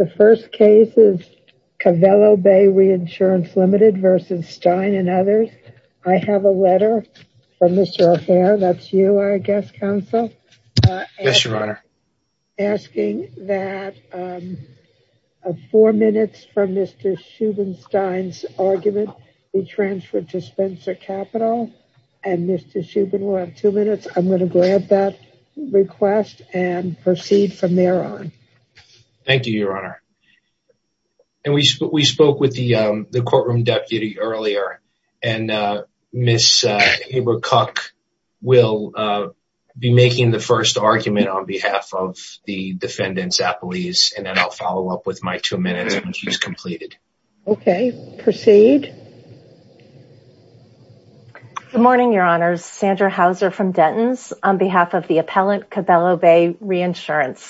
and others. I have a letter from Mr. Affair. That's you, I guess, Counsel. Yes, Your Honor. Asking that four minutes from Mr. Schubenstein's argument be transferred to Spencer Capital and Mr. Schuben will have two minutes. I'm going to grab that request and proceed from Mr. Affair. And we spoke with the courtroom deputy earlier and Ms. Abra Cooke will be making the first argument on behalf of the defendants' appellees and then I'll follow up with my two minutes when she's completed. Okay, proceed. Good morning, Your Honors. Sandra Houser from Denton's on behalf of the appellant Cabello Bay Reinsurance.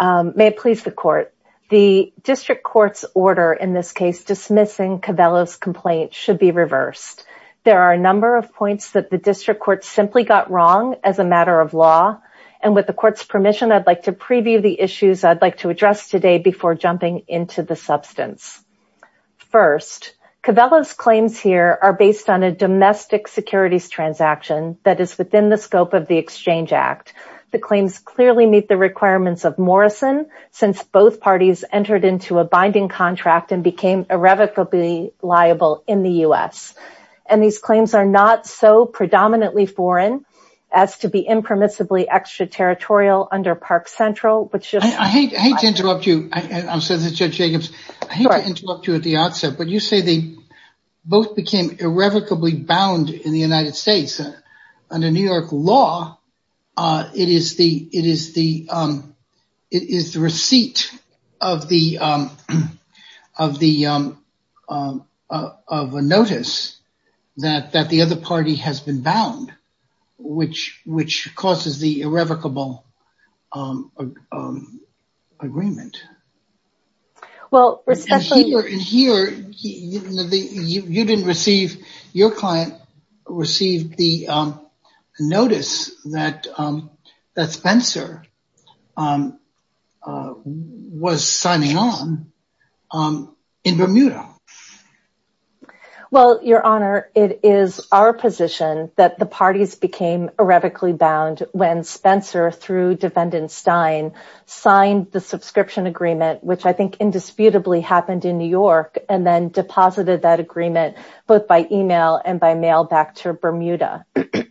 May it please the court. The district court's order in this case dismissing Cabello's complaint should be reversed. There are a number of points that the district court simply got wrong as a matter of law. And with the court's permission, I'd like to preview the issues I'd like to address today before jumping into the substance. First, Cabello's claims here are based on a domestic securities transaction that is These claims clearly meet the requirements of Morrison since both parties entered into a binding contract and became irrevocably liable in the U.S. And these claims are not so predominantly foreign as to be impermissibly extraterritorial under Park Central. I hate to interrupt you, Judge Jacobs. I hate to interrupt you at the outset, but you say both became irrevocably bound in the United States under New York law. It is the it is the it is the receipt of the of the of a notice that that the other party has been bound, which which causes the irrevocable agreement. Well, here you didn't receive your client received the notice that that Spencer was signing on in Bermuda. Well, Your Honor, it is our position that the parties became irrevocably bound when Spencer through defendant Stein signed the subscription agreement, which I think indisputably happened in New York, and then deposited that agreement both by email and by mail back to Bermuda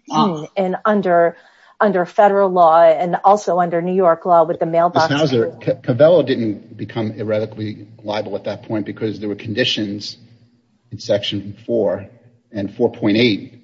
and under under federal law and also under New York law with the mailbox. How's there? Cabello didn't become irrevocably liable at that point because there were conditions in Section 4 and 4.8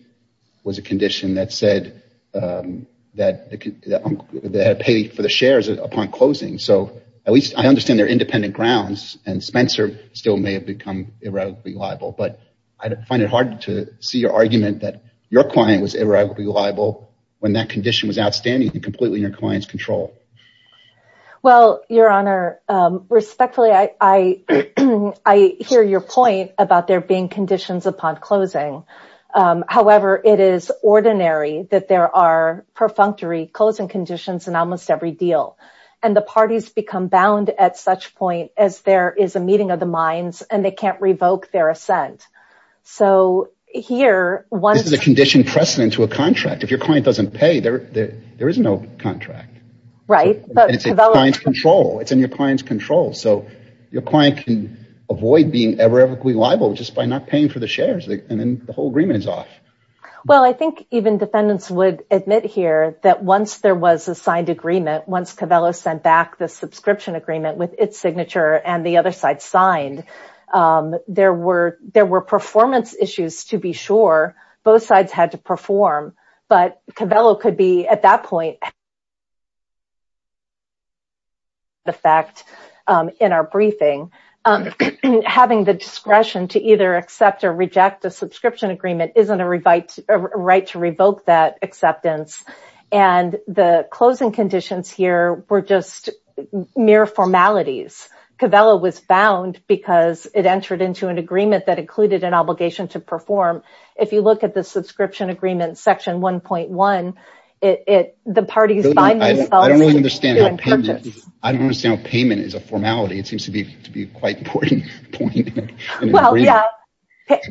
was a condition that said that they had to pay for the shares upon closing. So at least I understand their independent grounds and Spencer still may have become irrevocably liable. But I find it hard to see your argument that your client was irrevocably liable when that condition was outstanding and completely in your client's control. Well, Your Honor, respectfully, I I hear your point about there being conditions upon closing. However, it is ordinary that there are perfunctory closing conditions in almost every deal. And the parties become bound at such point as there is a meeting of the minds and they can't revoke their assent. So here was the condition precedent to a contract. If your client doesn't pay, there is no contract. Right. It's in your client's control. So your client can avoid being irrevocably liable just by not paying for the shares. And then the whole agreement is off. Well, I think even defendants would admit here that once there was a signed agreement, once Cabello sent back the subscription agreement with its signature and the other side signed, there were there were performance issues to be sure both sides had to perform. But Cabello could be at that point. The fact in our briefing, having the discretion to either accept or reject a subscription agreement isn't a right to revoke that acceptance. And the closing conditions here were just mere formalities. Cabello was bound because it entered into an agreement that included an obligation to perform. If you look at the subscription agreement, section one point one, it the parties. I don't understand. I don't understand. Payment is a formality. It seems to be to be quite important. Well, yeah,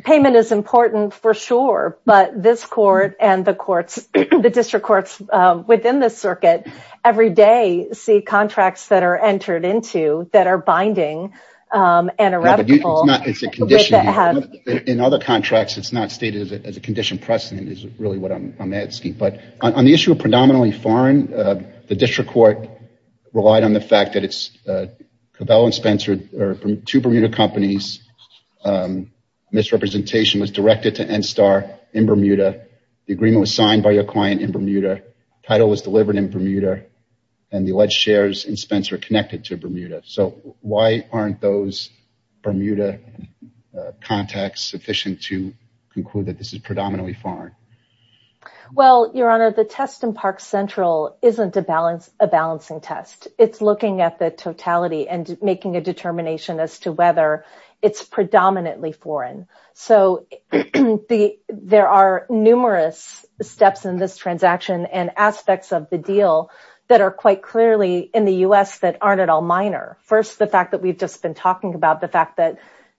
payment is important for sure. But this court and the courts, the district courts within the circuit every day, see contracts that are entered into that are binding and irrevocable. In other contracts, it's not stated as a condition precedent is really what I'm asking. But on the issue of predominantly foreign, the district court relied on the fact that it's Cabello and Spencer are two Bermuda companies. Misrepresentation was directed to Enstar in Bermuda. The agreement was signed by your client in Bermuda. Title was delivered in Bermuda and the alleged shares in Spencer connected to Bermuda. So why aren't those Bermuda contacts sufficient to conclude that this is predominantly foreign? Well, your honor, the test in Park Central isn't a balance, a balancing test. It's looking at the totality and making a determination as to whether it's predominantly foreign. So the there are numerous steps in this transaction and aspects of the deal that are quite clearly in the U.S. that aren't at all minor. First, the fact that we've just been talking about the fact that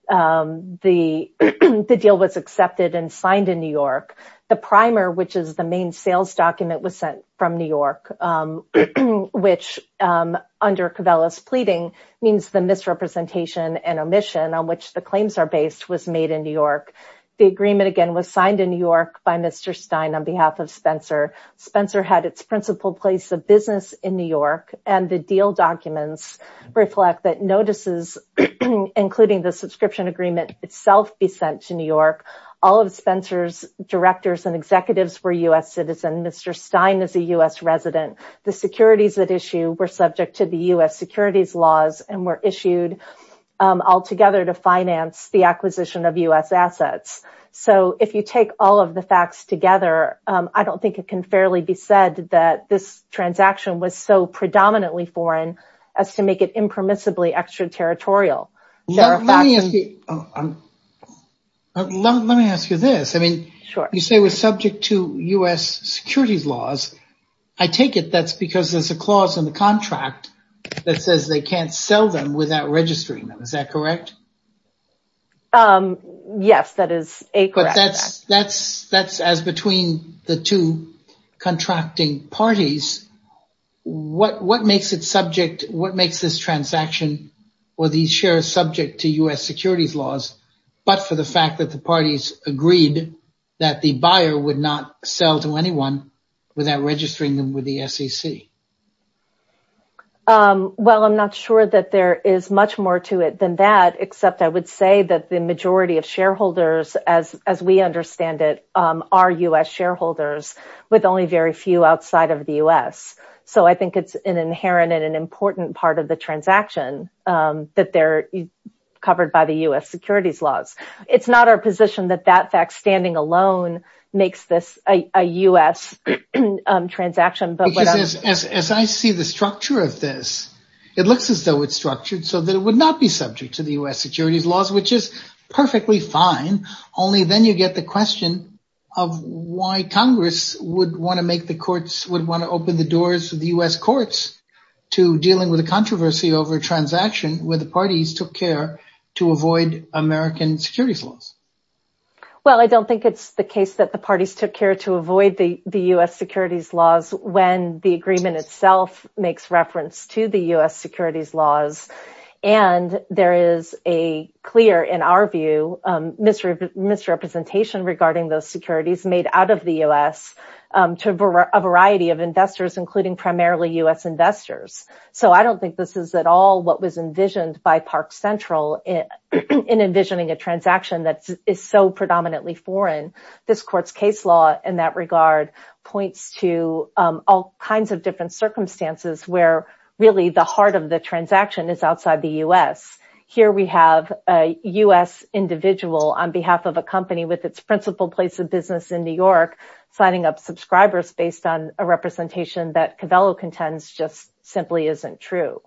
the deal was accepted and signed in New York. The primer, which is the main sales document, was sent from New York, which under Cabello's pleading means the misrepresentation and omission on which the claims are based was made in New York. The agreement, again, was signed in New York by Mr. Stein on behalf of Spencer. Spencer had its principal place of business in New York. And the deal documents reflect that notices, including the subscription agreement itself, be sent to New York. All of Spencer's directors and executives were U.S. citizens. Mr. Stein is a U.S. resident. The securities that issue were subject to the U.S. securities laws and were issued altogether to finance the acquisition of U.S. assets. So if you take all of the facts together, I don't think it can fairly be said that this transaction was so predominantly foreign as to make it impermissibly extraterritorial. Let me ask you this. I mean, you say we're subject to U.S. securities laws. I take it that's because there's a clause in the contract that says they can't sell them without registering them. Is that correct? Yes, that is. But that's that's that's as between the two contracting parties. What what makes it subject? What makes this transaction or these shares subject to U.S. securities laws? But for the fact that the parties agreed that the buyer would not sell to anyone without registering them with the SEC? Well, I'm not sure that there is much more to it than that. Except I would say that the majority of shareholders, as as we understand it, are U.S. shareholders with only very few outside of the U.S. So I think it's an inherent and an important part of the transaction that they're covered by the U.S. securities laws. It's not our position that that fact standing alone makes this a U.S. transaction. As I see the structure of this, it looks as though it's structured so that it would not be subject to the U.S. securities laws, which is perfectly fine. Only then you get the question of why Congress would want to make the courts would want to open the doors of the U.S. courts to dealing with a controversy over a transaction where the parties took care to avoid American securities laws. Well, I don't think it's the case that the parties took care to avoid the U.S. securities laws when the agreement itself makes reference to the U.S. securities laws. And there is a clear, in our view, misrepresentation regarding those securities made out of the U.S. to a variety of investors, including primarily U.S. investors. So I don't think this is at all what was envisioned by Park Central in envisioning a transaction that is so predominantly foreign. This court's case law in that regard points to all kinds of different circumstances where really the heart of the transaction is outside the U.S. Here we have a U.S. individual on behalf of a company with its principal place of business in New York signing up subscribers based on a representation that Covello contends just simply isn't true.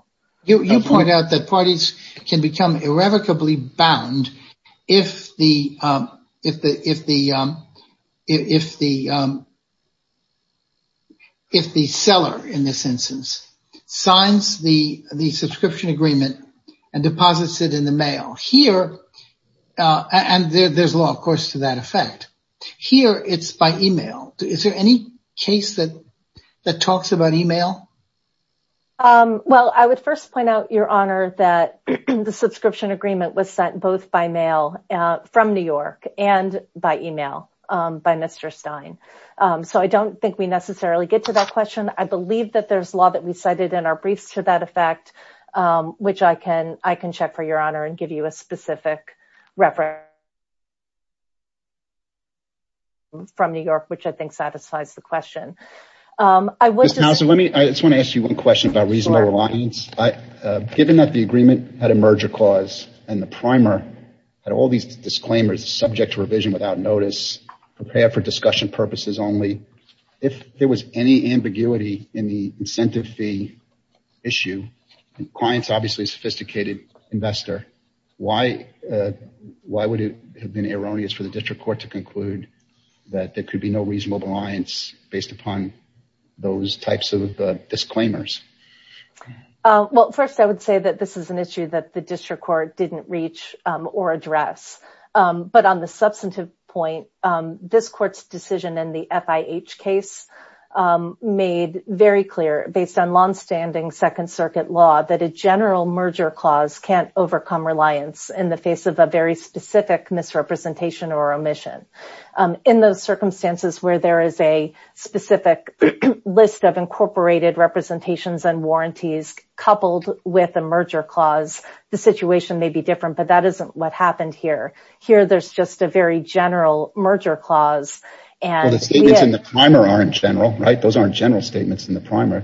You point out that parties can become irrevocably bound if the if the if the if the. If the seller in this instance signs the the subscription agreement and deposits it in the mail here and there's law, of course, to that effect here, it's by email. Is there any case that that talks about email? Well, I would first point out, Your Honor, that the subscription agreement was sent both by mail from New York and by email by Mr. Stein. So I don't think we necessarily get to that question. I believe that there's law that we cited in our briefs to that effect, which I can I can check for your honor and give you a specific reference. From New York, which I think satisfies the question. So let me I just want to ask you one question about reasonable reliance. Given that the agreement had a merger clause and the primer had all these disclaimers subject to revision without notice prepared for discussion purposes only. If there was any ambiguity in the incentive fee issue, clients obviously sophisticated investor. Why? Why would it have been erroneous for the district court to conclude that there could be no reasonable reliance based upon those types of disclaimers? Well, first, I would say that this is an issue that the district court didn't reach or address. But on the substantive point, this court's decision in the FIH case made very clear based on longstanding Second Circuit law that a general merger clause can't overcome reliance in the face of a very specific misrepresentation or omission. In those circumstances where there is a specific list of incorporated representations and warranties coupled with a merger clause, the situation may be different. But that isn't what happened here. Here, there's just a very general merger clause. And the statements in the primer are in general, right? Those aren't general statements in the primer.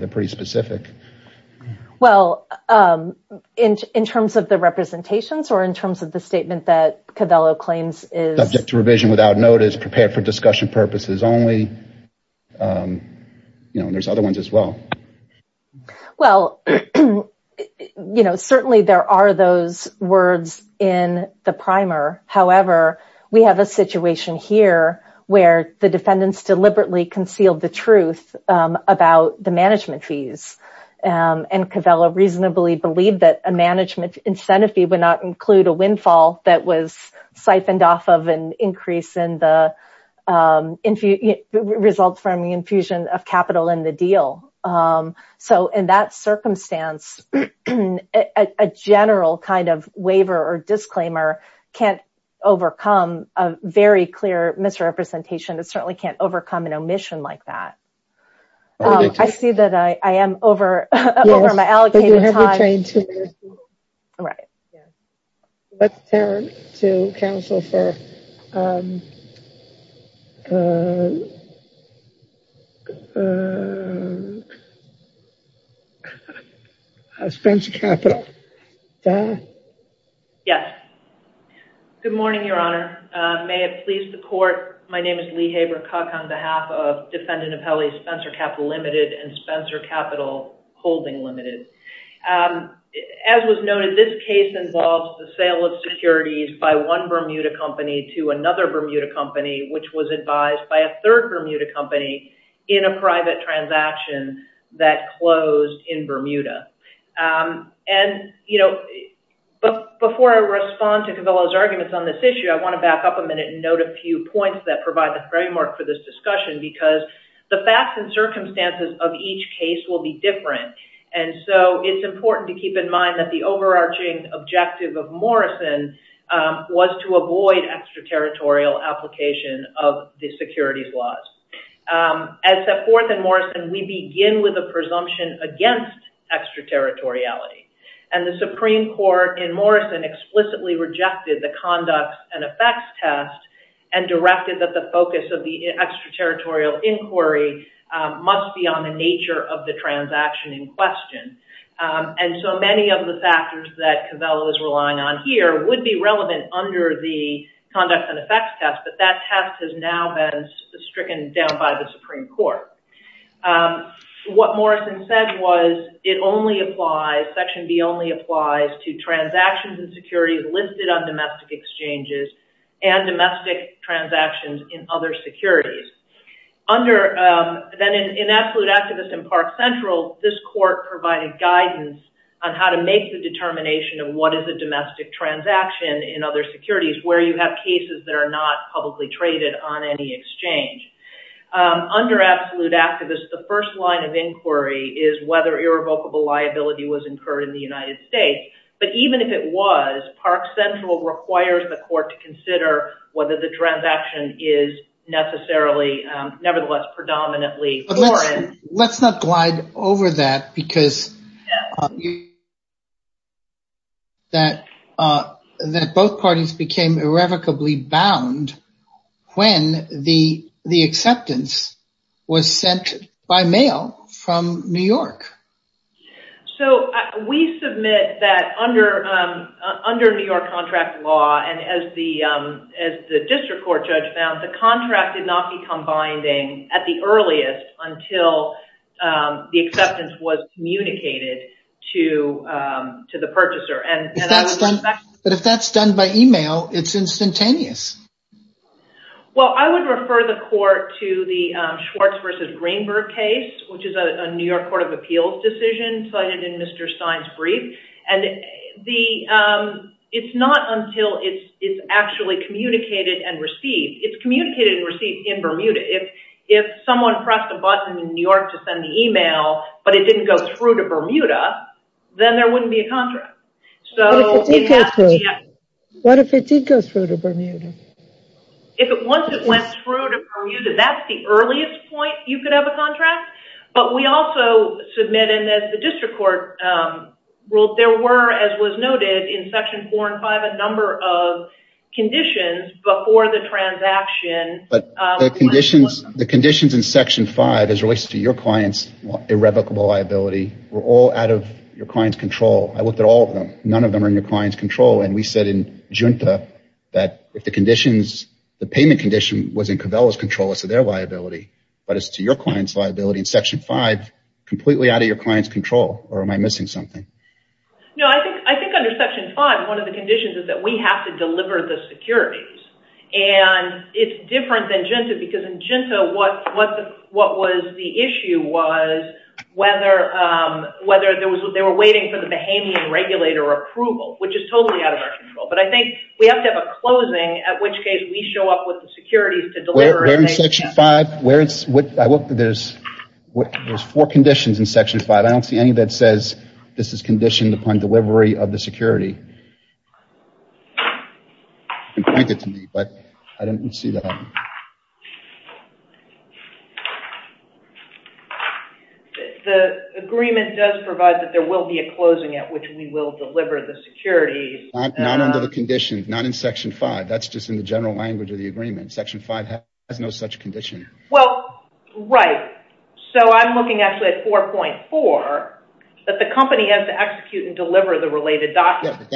Well, in terms of the representations or in terms of the statement that Covello claims is subject to revision without notice prepared for discussion purposes only, you know, there's other ones as well. Well, you know, certainly there are those words in the primer. However, we have a situation here where the defendants deliberately concealed the truth about the management fees. And Covello reasonably believed that a management incentive fee would not include a windfall that was siphoned off of an increase in the results from the infusion of capital in the deal. So in that circumstance, a general kind of waiver or disclaimer can't overcome a very clear misrepresentation. It certainly can't overcome an omission like that. I see that I am over my allocated time. All right. Let's turn to counsel for Spencer Capital. Yes. Good morning, Your Honor. May it please the court, my name is Lee Haber-Cook on behalf of Defendant Appellee Spencer Capital Limited and Spencer Capital Holding Limited. As was noted, this case involves the sale of securities by one Bermuda company to another Bermuda company, which was advised by a third Bermuda company in a private transaction that closed in Bermuda. And, you know, but before I respond to Covello's arguments on this issue, I want to back up a minute and note a few points that provide the framework for this discussion, because the facts and circumstances of each case will be different. And so it's important to keep in mind that the overarching objective of Morrison was to avoid extraterritorial application of the securities laws. As set forth in Morrison, we begin with a presumption against extraterritoriality. And the Supreme Court in Morrison explicitly rejected the conduct and effects test and directed that the focus of the extraterritorial inquiry must be on the nature of the transaction in question. And so many of the factors that Covello is relying on here would be relevant under the conduct and effects test, but that test has now been stricken down by the Supreme Court. What Morrison said was it only applies, Section B only applies to transactions and securities listed on domestic exchanges and domestic transactions in other securities. Then in Absolute Activist and Park Central, this court provided guidance on how to make the determination of what is a domestic transaction in other securities where you have cases that are not publicly traded on any exchange. Under Absolute Activist, the first line of inquiry is whether irrevocable liability was incurred in the United States. But even if it was, Park Central requires the court to consider whether the transaction is necessarily, nevertheless, predominantly foreign. Let's not glide over that because that both parties became irrevocably bound when the acceptance was sent by mail from New York. So we submit that under New York contract law and as the district court judge found, the contract did not become binding at the earliest until the acceptance was communicated to the purchaser. But if that's done by email, it's instantaneous. Well, I would refer the court to the Schwartz v. Greenberg case, which is a New York Court of Appeals decision cited in Mr. Stein's brief. And it's not until it's actually communicated and received. It's communicated and received in Bermuda. If someone pressed a button in New York to send the email, but it didn't go through to Bermuda, then there wouldn't be a contract. What if it did go through? What if it did go through to Bermuda? Once it went through to Bermuda, that's the earliest point you could have a contract. But we also submit, and as the district court ruled, there were, as was noted in Section 4 and 5, a number of conditions before the transaction. But the conditions in Section 5 as it relates to your client's irrevocable liability were all out of your client's control. I looked at all of them. None of them are in your client's control. And we said in Junta that if the payment condition was in Covella's control as to their liability, but as to your client's liability in Section 5, completely out of your client's control, or am I missing something? No, I think under Section 5, one of the conditions is that we have to deliver the securities. And it's different than Junta because in Junta, what was the issue was whether they were waiting for the Bahamian regulator approval, which is totally out of our control. But I think we have to have a closing, at which case we show up with the securities to deliver. Where in Section 5? There's four conditions in Section 5. I don't see any that says this is conditioned upon delivery of the security. You can point it to me, but I don't see that. The agreement does provide that there will be a closing at which we will deliver the securities. Not under the conditions, not in Section 5. That's just in the general language of the agreement. Section 5 has no such condition. Well, right. So I'm looking actually at 4.4, that the company has to execute and deliver the related documents.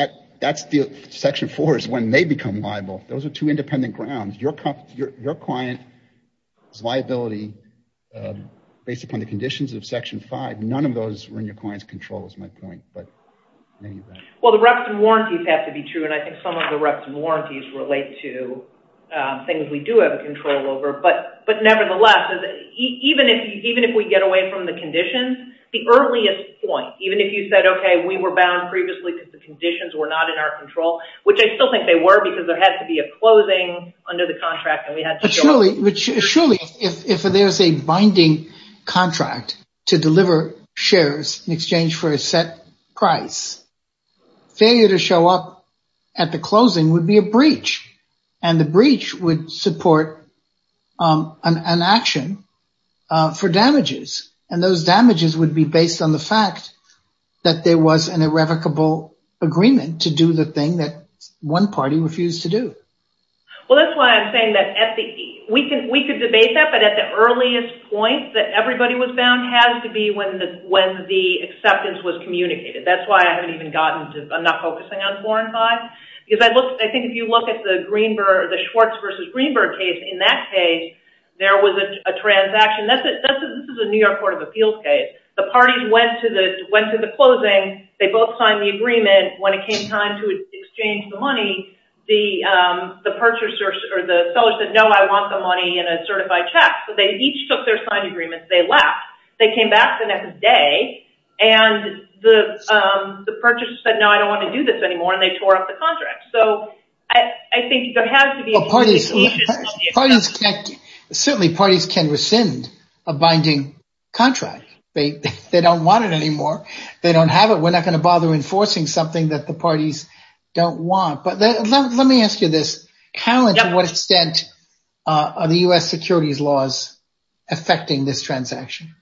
Section 4 is when they become liable. Those are two independent grounds. Your client's liability based upon the conditions of Section 5, none of those are in your client's control is my point. Well, the reps and warranties have to be true, and I think some of the reps and warranties relate to things we do have control over. But nevertheless, even if we get away from the conditions, the earliest point, even if you said, okay, we were bound previously because the conditions were not in our control, which I still think they were because there had to be a closing under the contract. But surely, if there's a binding contract to deliver shares in exchange for a set price, failure to show up at the closing would be a breach, and the breach would support an action for damages. And those damages would be based on the fact that there was an irrevocable agreement to do the thing that one party refused to do. Well, that's why I'm saying that we could debate that, but at the earliest point that everybody was bound has to be when the acceptance was communicated. That's why I haven't even gotten to, I'm not focusing on 4 and 5, because I think if you look at the Schwartz versus Greenberg case, in that case, there was a transaction. This is a New York Court of Appeals case. The parties went to the closing. They both signed the agreement. When it came time to exchange the money, the seller said, no, I want the money in a certified check. So they each took their signed agreements. They left. They came back the next day, and the purchaser said, no, I don't want to do this anymore, and they tore up the contract. So I think there has to be a communication of the acceptance. Certainly, parties can rescind a binding contract. They don't want it anymore. They don't have it. We're not going to bother enforcing something that the parties don't want. But let me ask you this. How and to what extent are the U.S. securities laws affecting this transaction?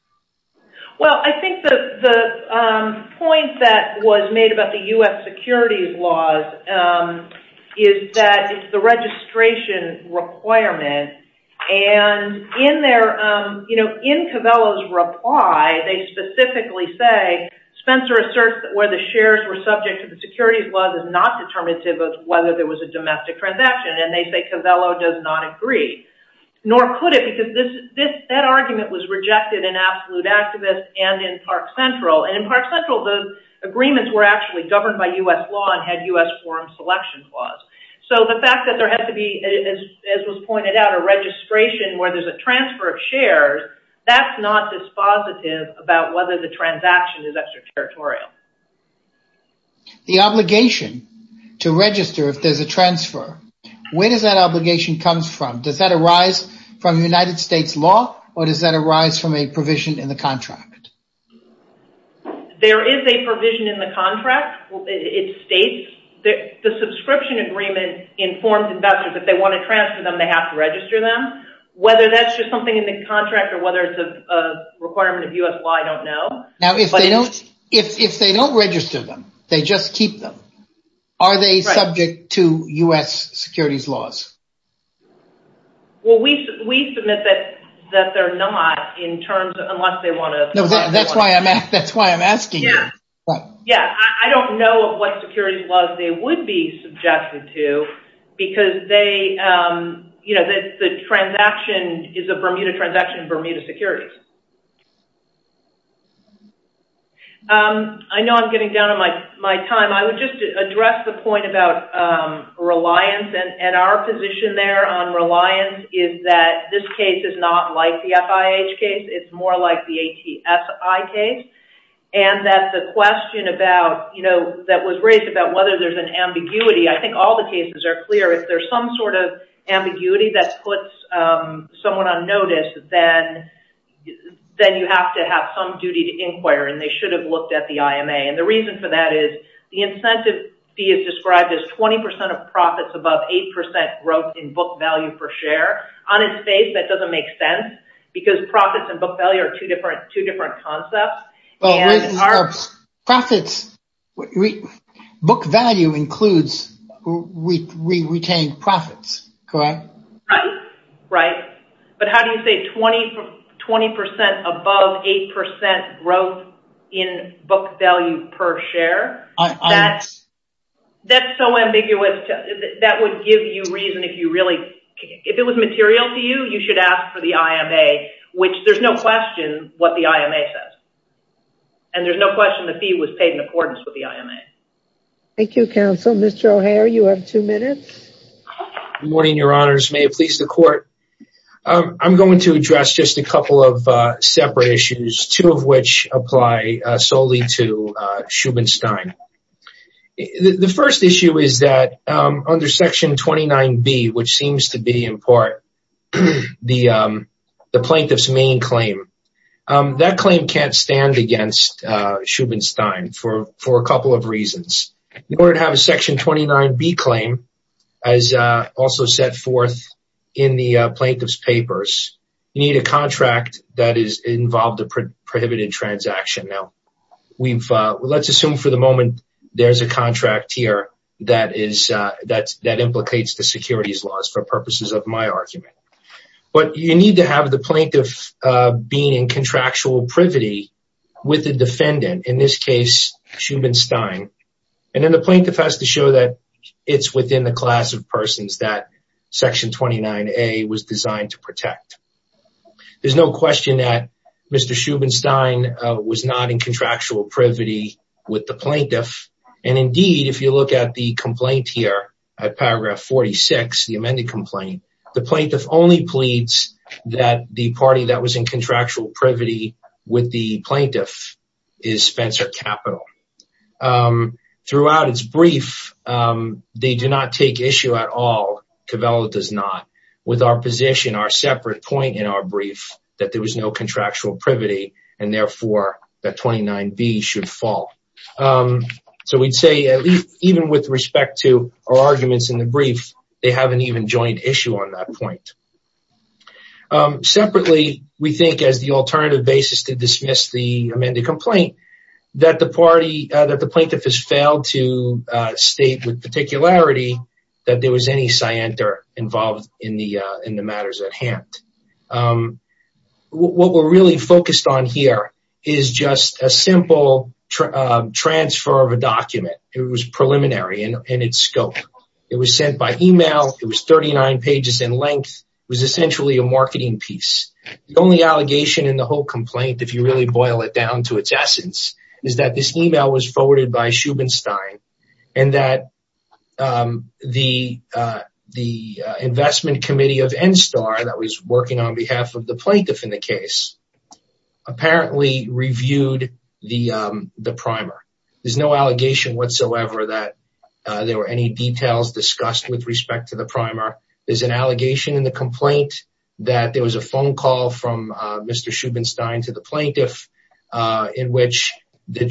Well, I think the point that was made about the U.S. securities laws is that it's the registration requirement, and in Covello's reply, they specifically say, Spencer asserts that where the shares were subject to the securities laws is not determinative of whether there was a domestic transaction, and they say Covello does not agree. Nor could it, because that argument was rejected in Absolute Activist and in Park Central, and in Park Central, the agreements were actually governed by U.S. law and had U.S. forum selection clause. So the fact that there has to be, as was pointed out, a registration where there's a transfer of shares, that's not dispositive about whether the transaction is extraterritorial. The obligation to register if there's a transfer, where does that obligation come from? Does that arise from United States law, or does that arise from a provision in the contract? There is a provision in the contract. It states that the subscription agreement informs investors that if they want to transfer them, they have to register them. Whether that's just something in the contract or whether it's a requirement of U.S. law, I don't know. Now, if they don't register them, they just keep them, are they subject to U.S. securities laws? Well, we submit that they're not, unless they want to. That's why I'm asking you. Yeah, I don't know what securities laws they would be subjected to, because the transaction is a Bermuda transaction, Bermuda securities. I know I'm getting down on my time. I would just address the point about reliance, and our position there on reliance is that this case is not like the FIH case, it's more like the ATSI case, and that the question that was raised about whether there's an ambiguity, I think all the cases are clear. If there's some sort of ambiguity that puts someone on notice, then you have to have some duty to inquire, and they should have looked at the IMA. The reason for that is the incentive fee is described as 20% of profits above 8% growth in book value per share. On its face, that doesn't make sense, because profits and book value are two different concepts. Book value includes retained profits, correct? Right, right. But how do you say 20% above 8% growth in book value per share? That's so ambiguous, that would give you reason if you really, if it was material to you, you should ask for the IMA, which there's no question what the IMA says, and there's no question the fee was paid in accordance with the IMA. Thank you, counsel. Mr. O'Hare, you have two minutes. Good morning, your honors. May it please the court. I'm going to address just a couple of separate issues, two of which apply solely to Shubinstein. The first issue is that under Section 29B, which seems to be in part the plaintiff's main claim, that claim can't stand against Shubinstein for a couple of reasons. In order to have a Section 29B claim, as also set forth in the plaintiff's papers, you need a contract that is involved in a prohibited transaction. Now, let's assume for the moment there's a contract here that implicates the securities laws for purposes of my argument. But you need to have the plaintiff being in contractual privity with the defendant, in this case, Shubinstein. And then the plaintiff has to show that it's within the class of persons that Section 29A was designed to protect. There's no question that Mr. Shubinstein was not in contractual privity with the plaintiff. And indeed, if you look at the complaint here, at paragraph 46, the amended complaint, the plaintiff only pleads that the party that was in contractual privity with the plaintiff is Spencer Capital. Throughout its brief, they do not take issue at all, Covello does not, with our position, our separate point in our brief, that there was no contractual privity and, therefore, that 29B should fall. So we'd say even with respect to our arguments in the brief, they haven't even joined issue on that point. Separately, we think as the alternative basis to dismiss the amended complaint, that the plaintiff has failed to state with particularity that there was any scienter involved in the matters at hand. What we're really focused on here is just a simple transfer of a document. It was preliminary in its scope. It was sent by email. It was 39 pages in length. It was essentially a marketing piece. The only allegation in the whole complaint, if you really boil it down to its essence, is that this email was forwarded by Schubenstein and that the investment committee of NSTAR that was working on behalf of the plaintiff in the case apparently reviewed the primer. There's no allegation whatsoever that there were any details discussed with respect to the primer. There's an allegation in the complaint that there was a phone call from Mr. Schubenstein to the plaintiff in which there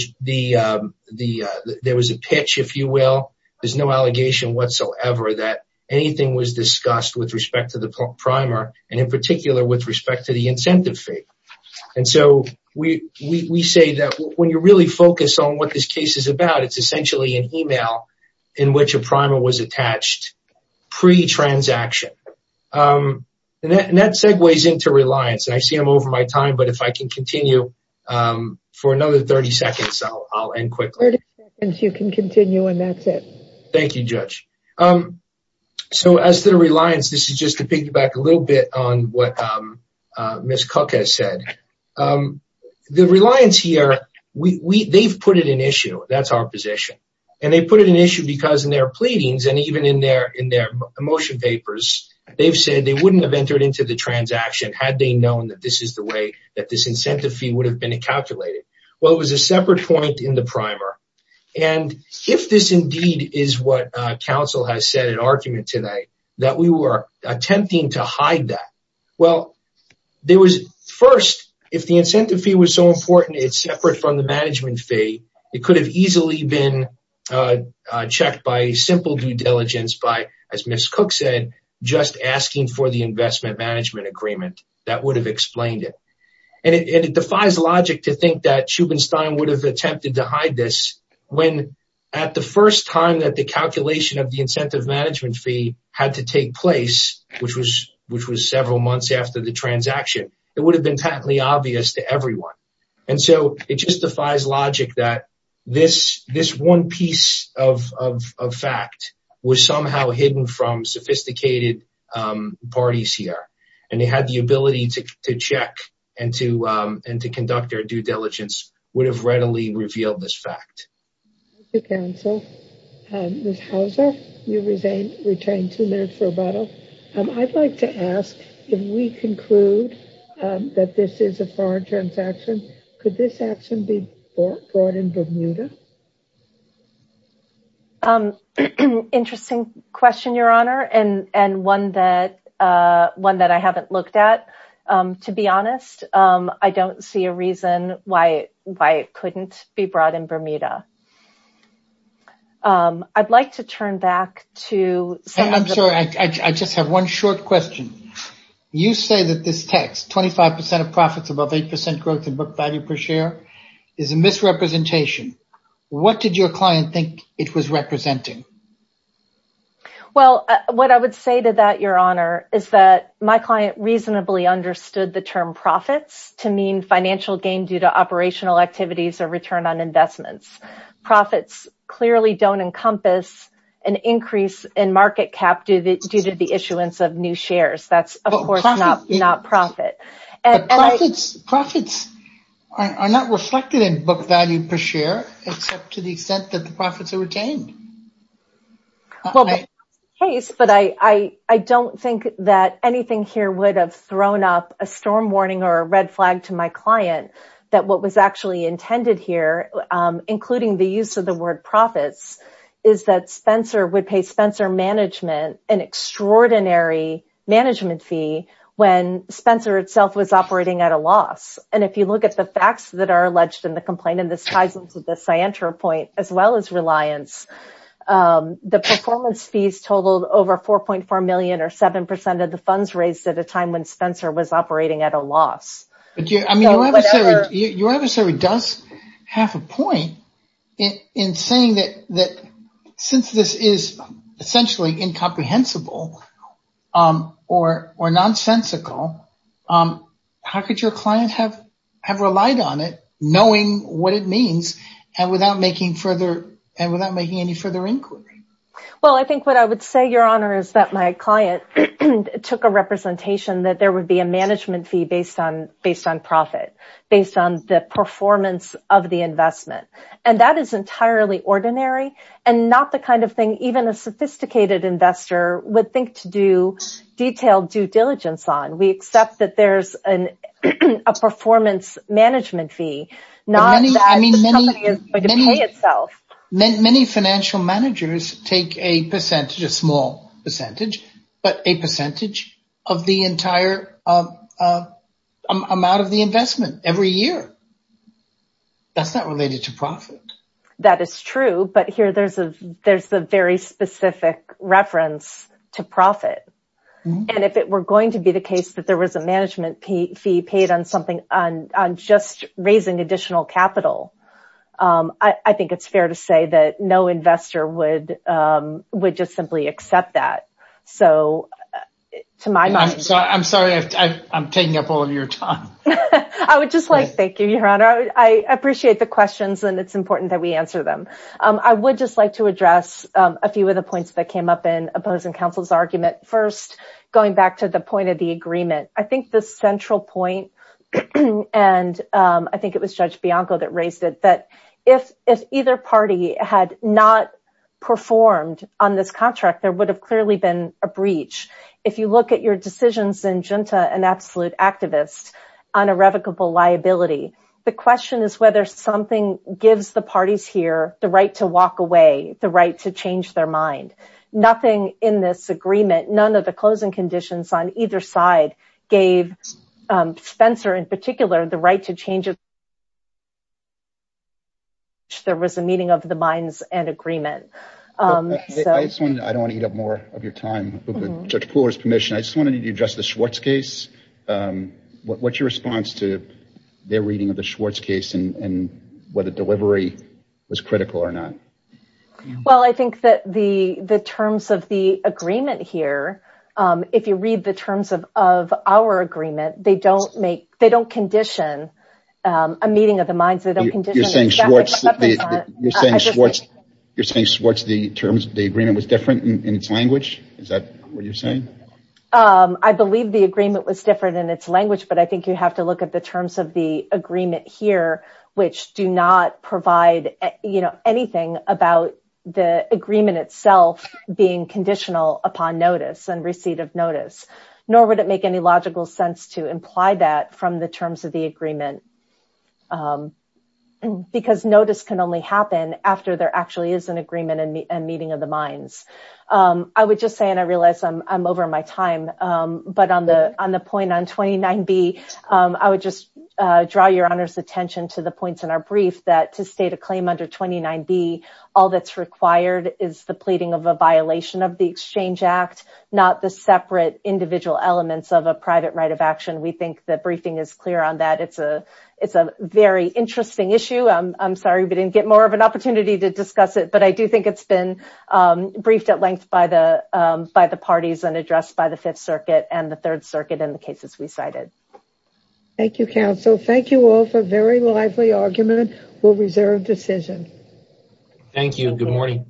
was a pitch, if you will. There's no allegation whatsoever that anything was discussed with respect to the primer and, in particular, with respect to the incentive fee. And so we say that when you really focus on what this case is about, it's essentially an email in which a primer was attached pre-transaction. And that segues into reliance. I see I'm over my time, but if I can continue for another 30 seconds, I'll end quickly. 30 seconds, you can continue, and that's it. Thank you, Judge. So as to reliance, this is just to piggyback a little bit on what Ms. Cook has said. The reliance here, they've put it in issue. That's our position. And they put it in issue because in their pleadings and even in their motion papers, they've said they wouldn't have entered into the transaction had they known that this is the way that this incentive fee would have been calculated. Well, it was a separate point in the primer. And if this indeed is what counsel has said in argument tonight, that we were attempting to hide that, well, there was first, if the incentive fee was so important it's separate from the management fee, it could have easily been checked by simple due diligence by, as Ms. Cook said, just asking for the investment management agreement. That would have explained it. And it defies logic to think that Schubenstein would have attempted to hide this when at the first time that the calculation of the incentive management fee had to take place, which was several months after the transaction, it would have been patently obvious to everyone. And so it just defies logic that this, this one piece of fact was somehow hidden from sophisticated parties here. And they had the ability to check and to, and to conduct their due diligence would have readily revealed this fact. Thank you, counsel. Ms. Hauser, you retain two minutes for rebuttal. I'd like to ask if we conclude that this is a foreign transaction, could this action be brought in Bermuda? Interesting question, Your Honor. And one that one that I haven't looked at, to be honest, I don't see a reason why it couldn't be brought in Bermuda. I'd like to turn back to. I'm sorry, I just have one short question. You say that this text, 25% of profits above 8% growth in book value per share is a misrepresentation. What did your client think it was representing? Well, what I would say to that your honor is that my client reasonably understood the term profits to mean financial gain due to operational activities or return on investments. Profits clearly don't encompass an increase in market cap due to the issuance of new shares. That's of course not profit. Profits are not reflected in book value per share, except to the extent that the profits are retained. But I don't think that anything here would have thrown up a storm warning or I think what is actually intended here, including the use of the word profits is that Spencer would pay Spencer management, an extraordinary management fee when Spencer itself was operating at a loss. And if you look at the facts that are alleged in the complaint, and this ties into the Ciantra point as well as reliance, the performance fees totaled over 4.4 million or 7% of the funds raised at a Spencer was operating at a loss. I mean, your adversary does have a point in saying that, that since this is essentially incomprehensible or, or nonsensical how could your client have, have relied on it knowing what it means and without making further and without making any further inquiry? Well, I think what I would say your honor is that my client took a representation that there would be a management fee based on, based on profit based on the performance of the investment. And that is entirely ordinary and not the kind of thing, even a sophisticated investor would think to do detailed due diligence on. We accept that there's an, a performance management fee, not that the company is going to pay itself. Many financial managers take a percentage, not just a small percentage, but a percentage of the entire amount of the investment every year. That's not related to profit. That is true. But here there's a, there's the very specific reference to profit. And if it were going to be the case that there was a management fee paid on something on, on just raising additional capital I think it's fair to say that no investor would just simply accept that. So to my mind, I'm sorry, I'm taking up all of your time. I would just like, thank you, your honor. I appreciate the questions and it's important that we answer them. I would just like to address a few of the points that came up in opposing counsel's argument. First, going back to the point of the agreement, I think the central point, and I think it was judge Bianco that raised it, if either party had not performed on this contract, there would have clearly been a breach. If you look at your decisions in Junta, an absolute activist on irrevocable liability, the question is whether something gives the parties here the right to walk away, the right to change their mind. Nothing in this agreement, none of the closing conditions on either side gave Spencer in particular, the right to change its mind. There was a meeting of the minds and agreement. I don't want to eat up more of your time. Judge Pooler's permission. I just wanted you to address the Schwartz case. What's your response to their reading of the Schwartz case and whether delivery was critical or not? Well, I think that the terms of the agreement here, if you read the terms of our agreement, they don't make, they don't condition a meeting of the minds. They don't condition. You're saying Schwartz, you're saying Schwartz, the terms of the agreement was different in its language. Is that what you're saying? I believe the agreement was different in its language, but I think you have to look at the terms of the agreement here, which do not provide anything about the agreement itself being conditional upon notice and receipt of notice, nor would it make any logical sense to imply that from the terms of the agreement, because notice can only happen after there actually is an agreement and meeting of the minds. I would just say, and I realize I'm over my time, but on the, on the point on 29B, I would just draw your honor's attention to the points in our brief that to state a claim under 29B, all that's required is the pleading of a violation of the exchange act, not the separate individual elements of a private right of action. We think that briefing is clear on that. It's a, it's a very interesting issue. I'm sorry, we didn't get more of an opportunity to discuss it, but I do think it's been briefed at length by the, by the parties and addressed by the fifth circuit and the third circuit and the cases we cited. Thank you, counsel. Thank you all for very lively argument. We'll reserve decision. Thank you.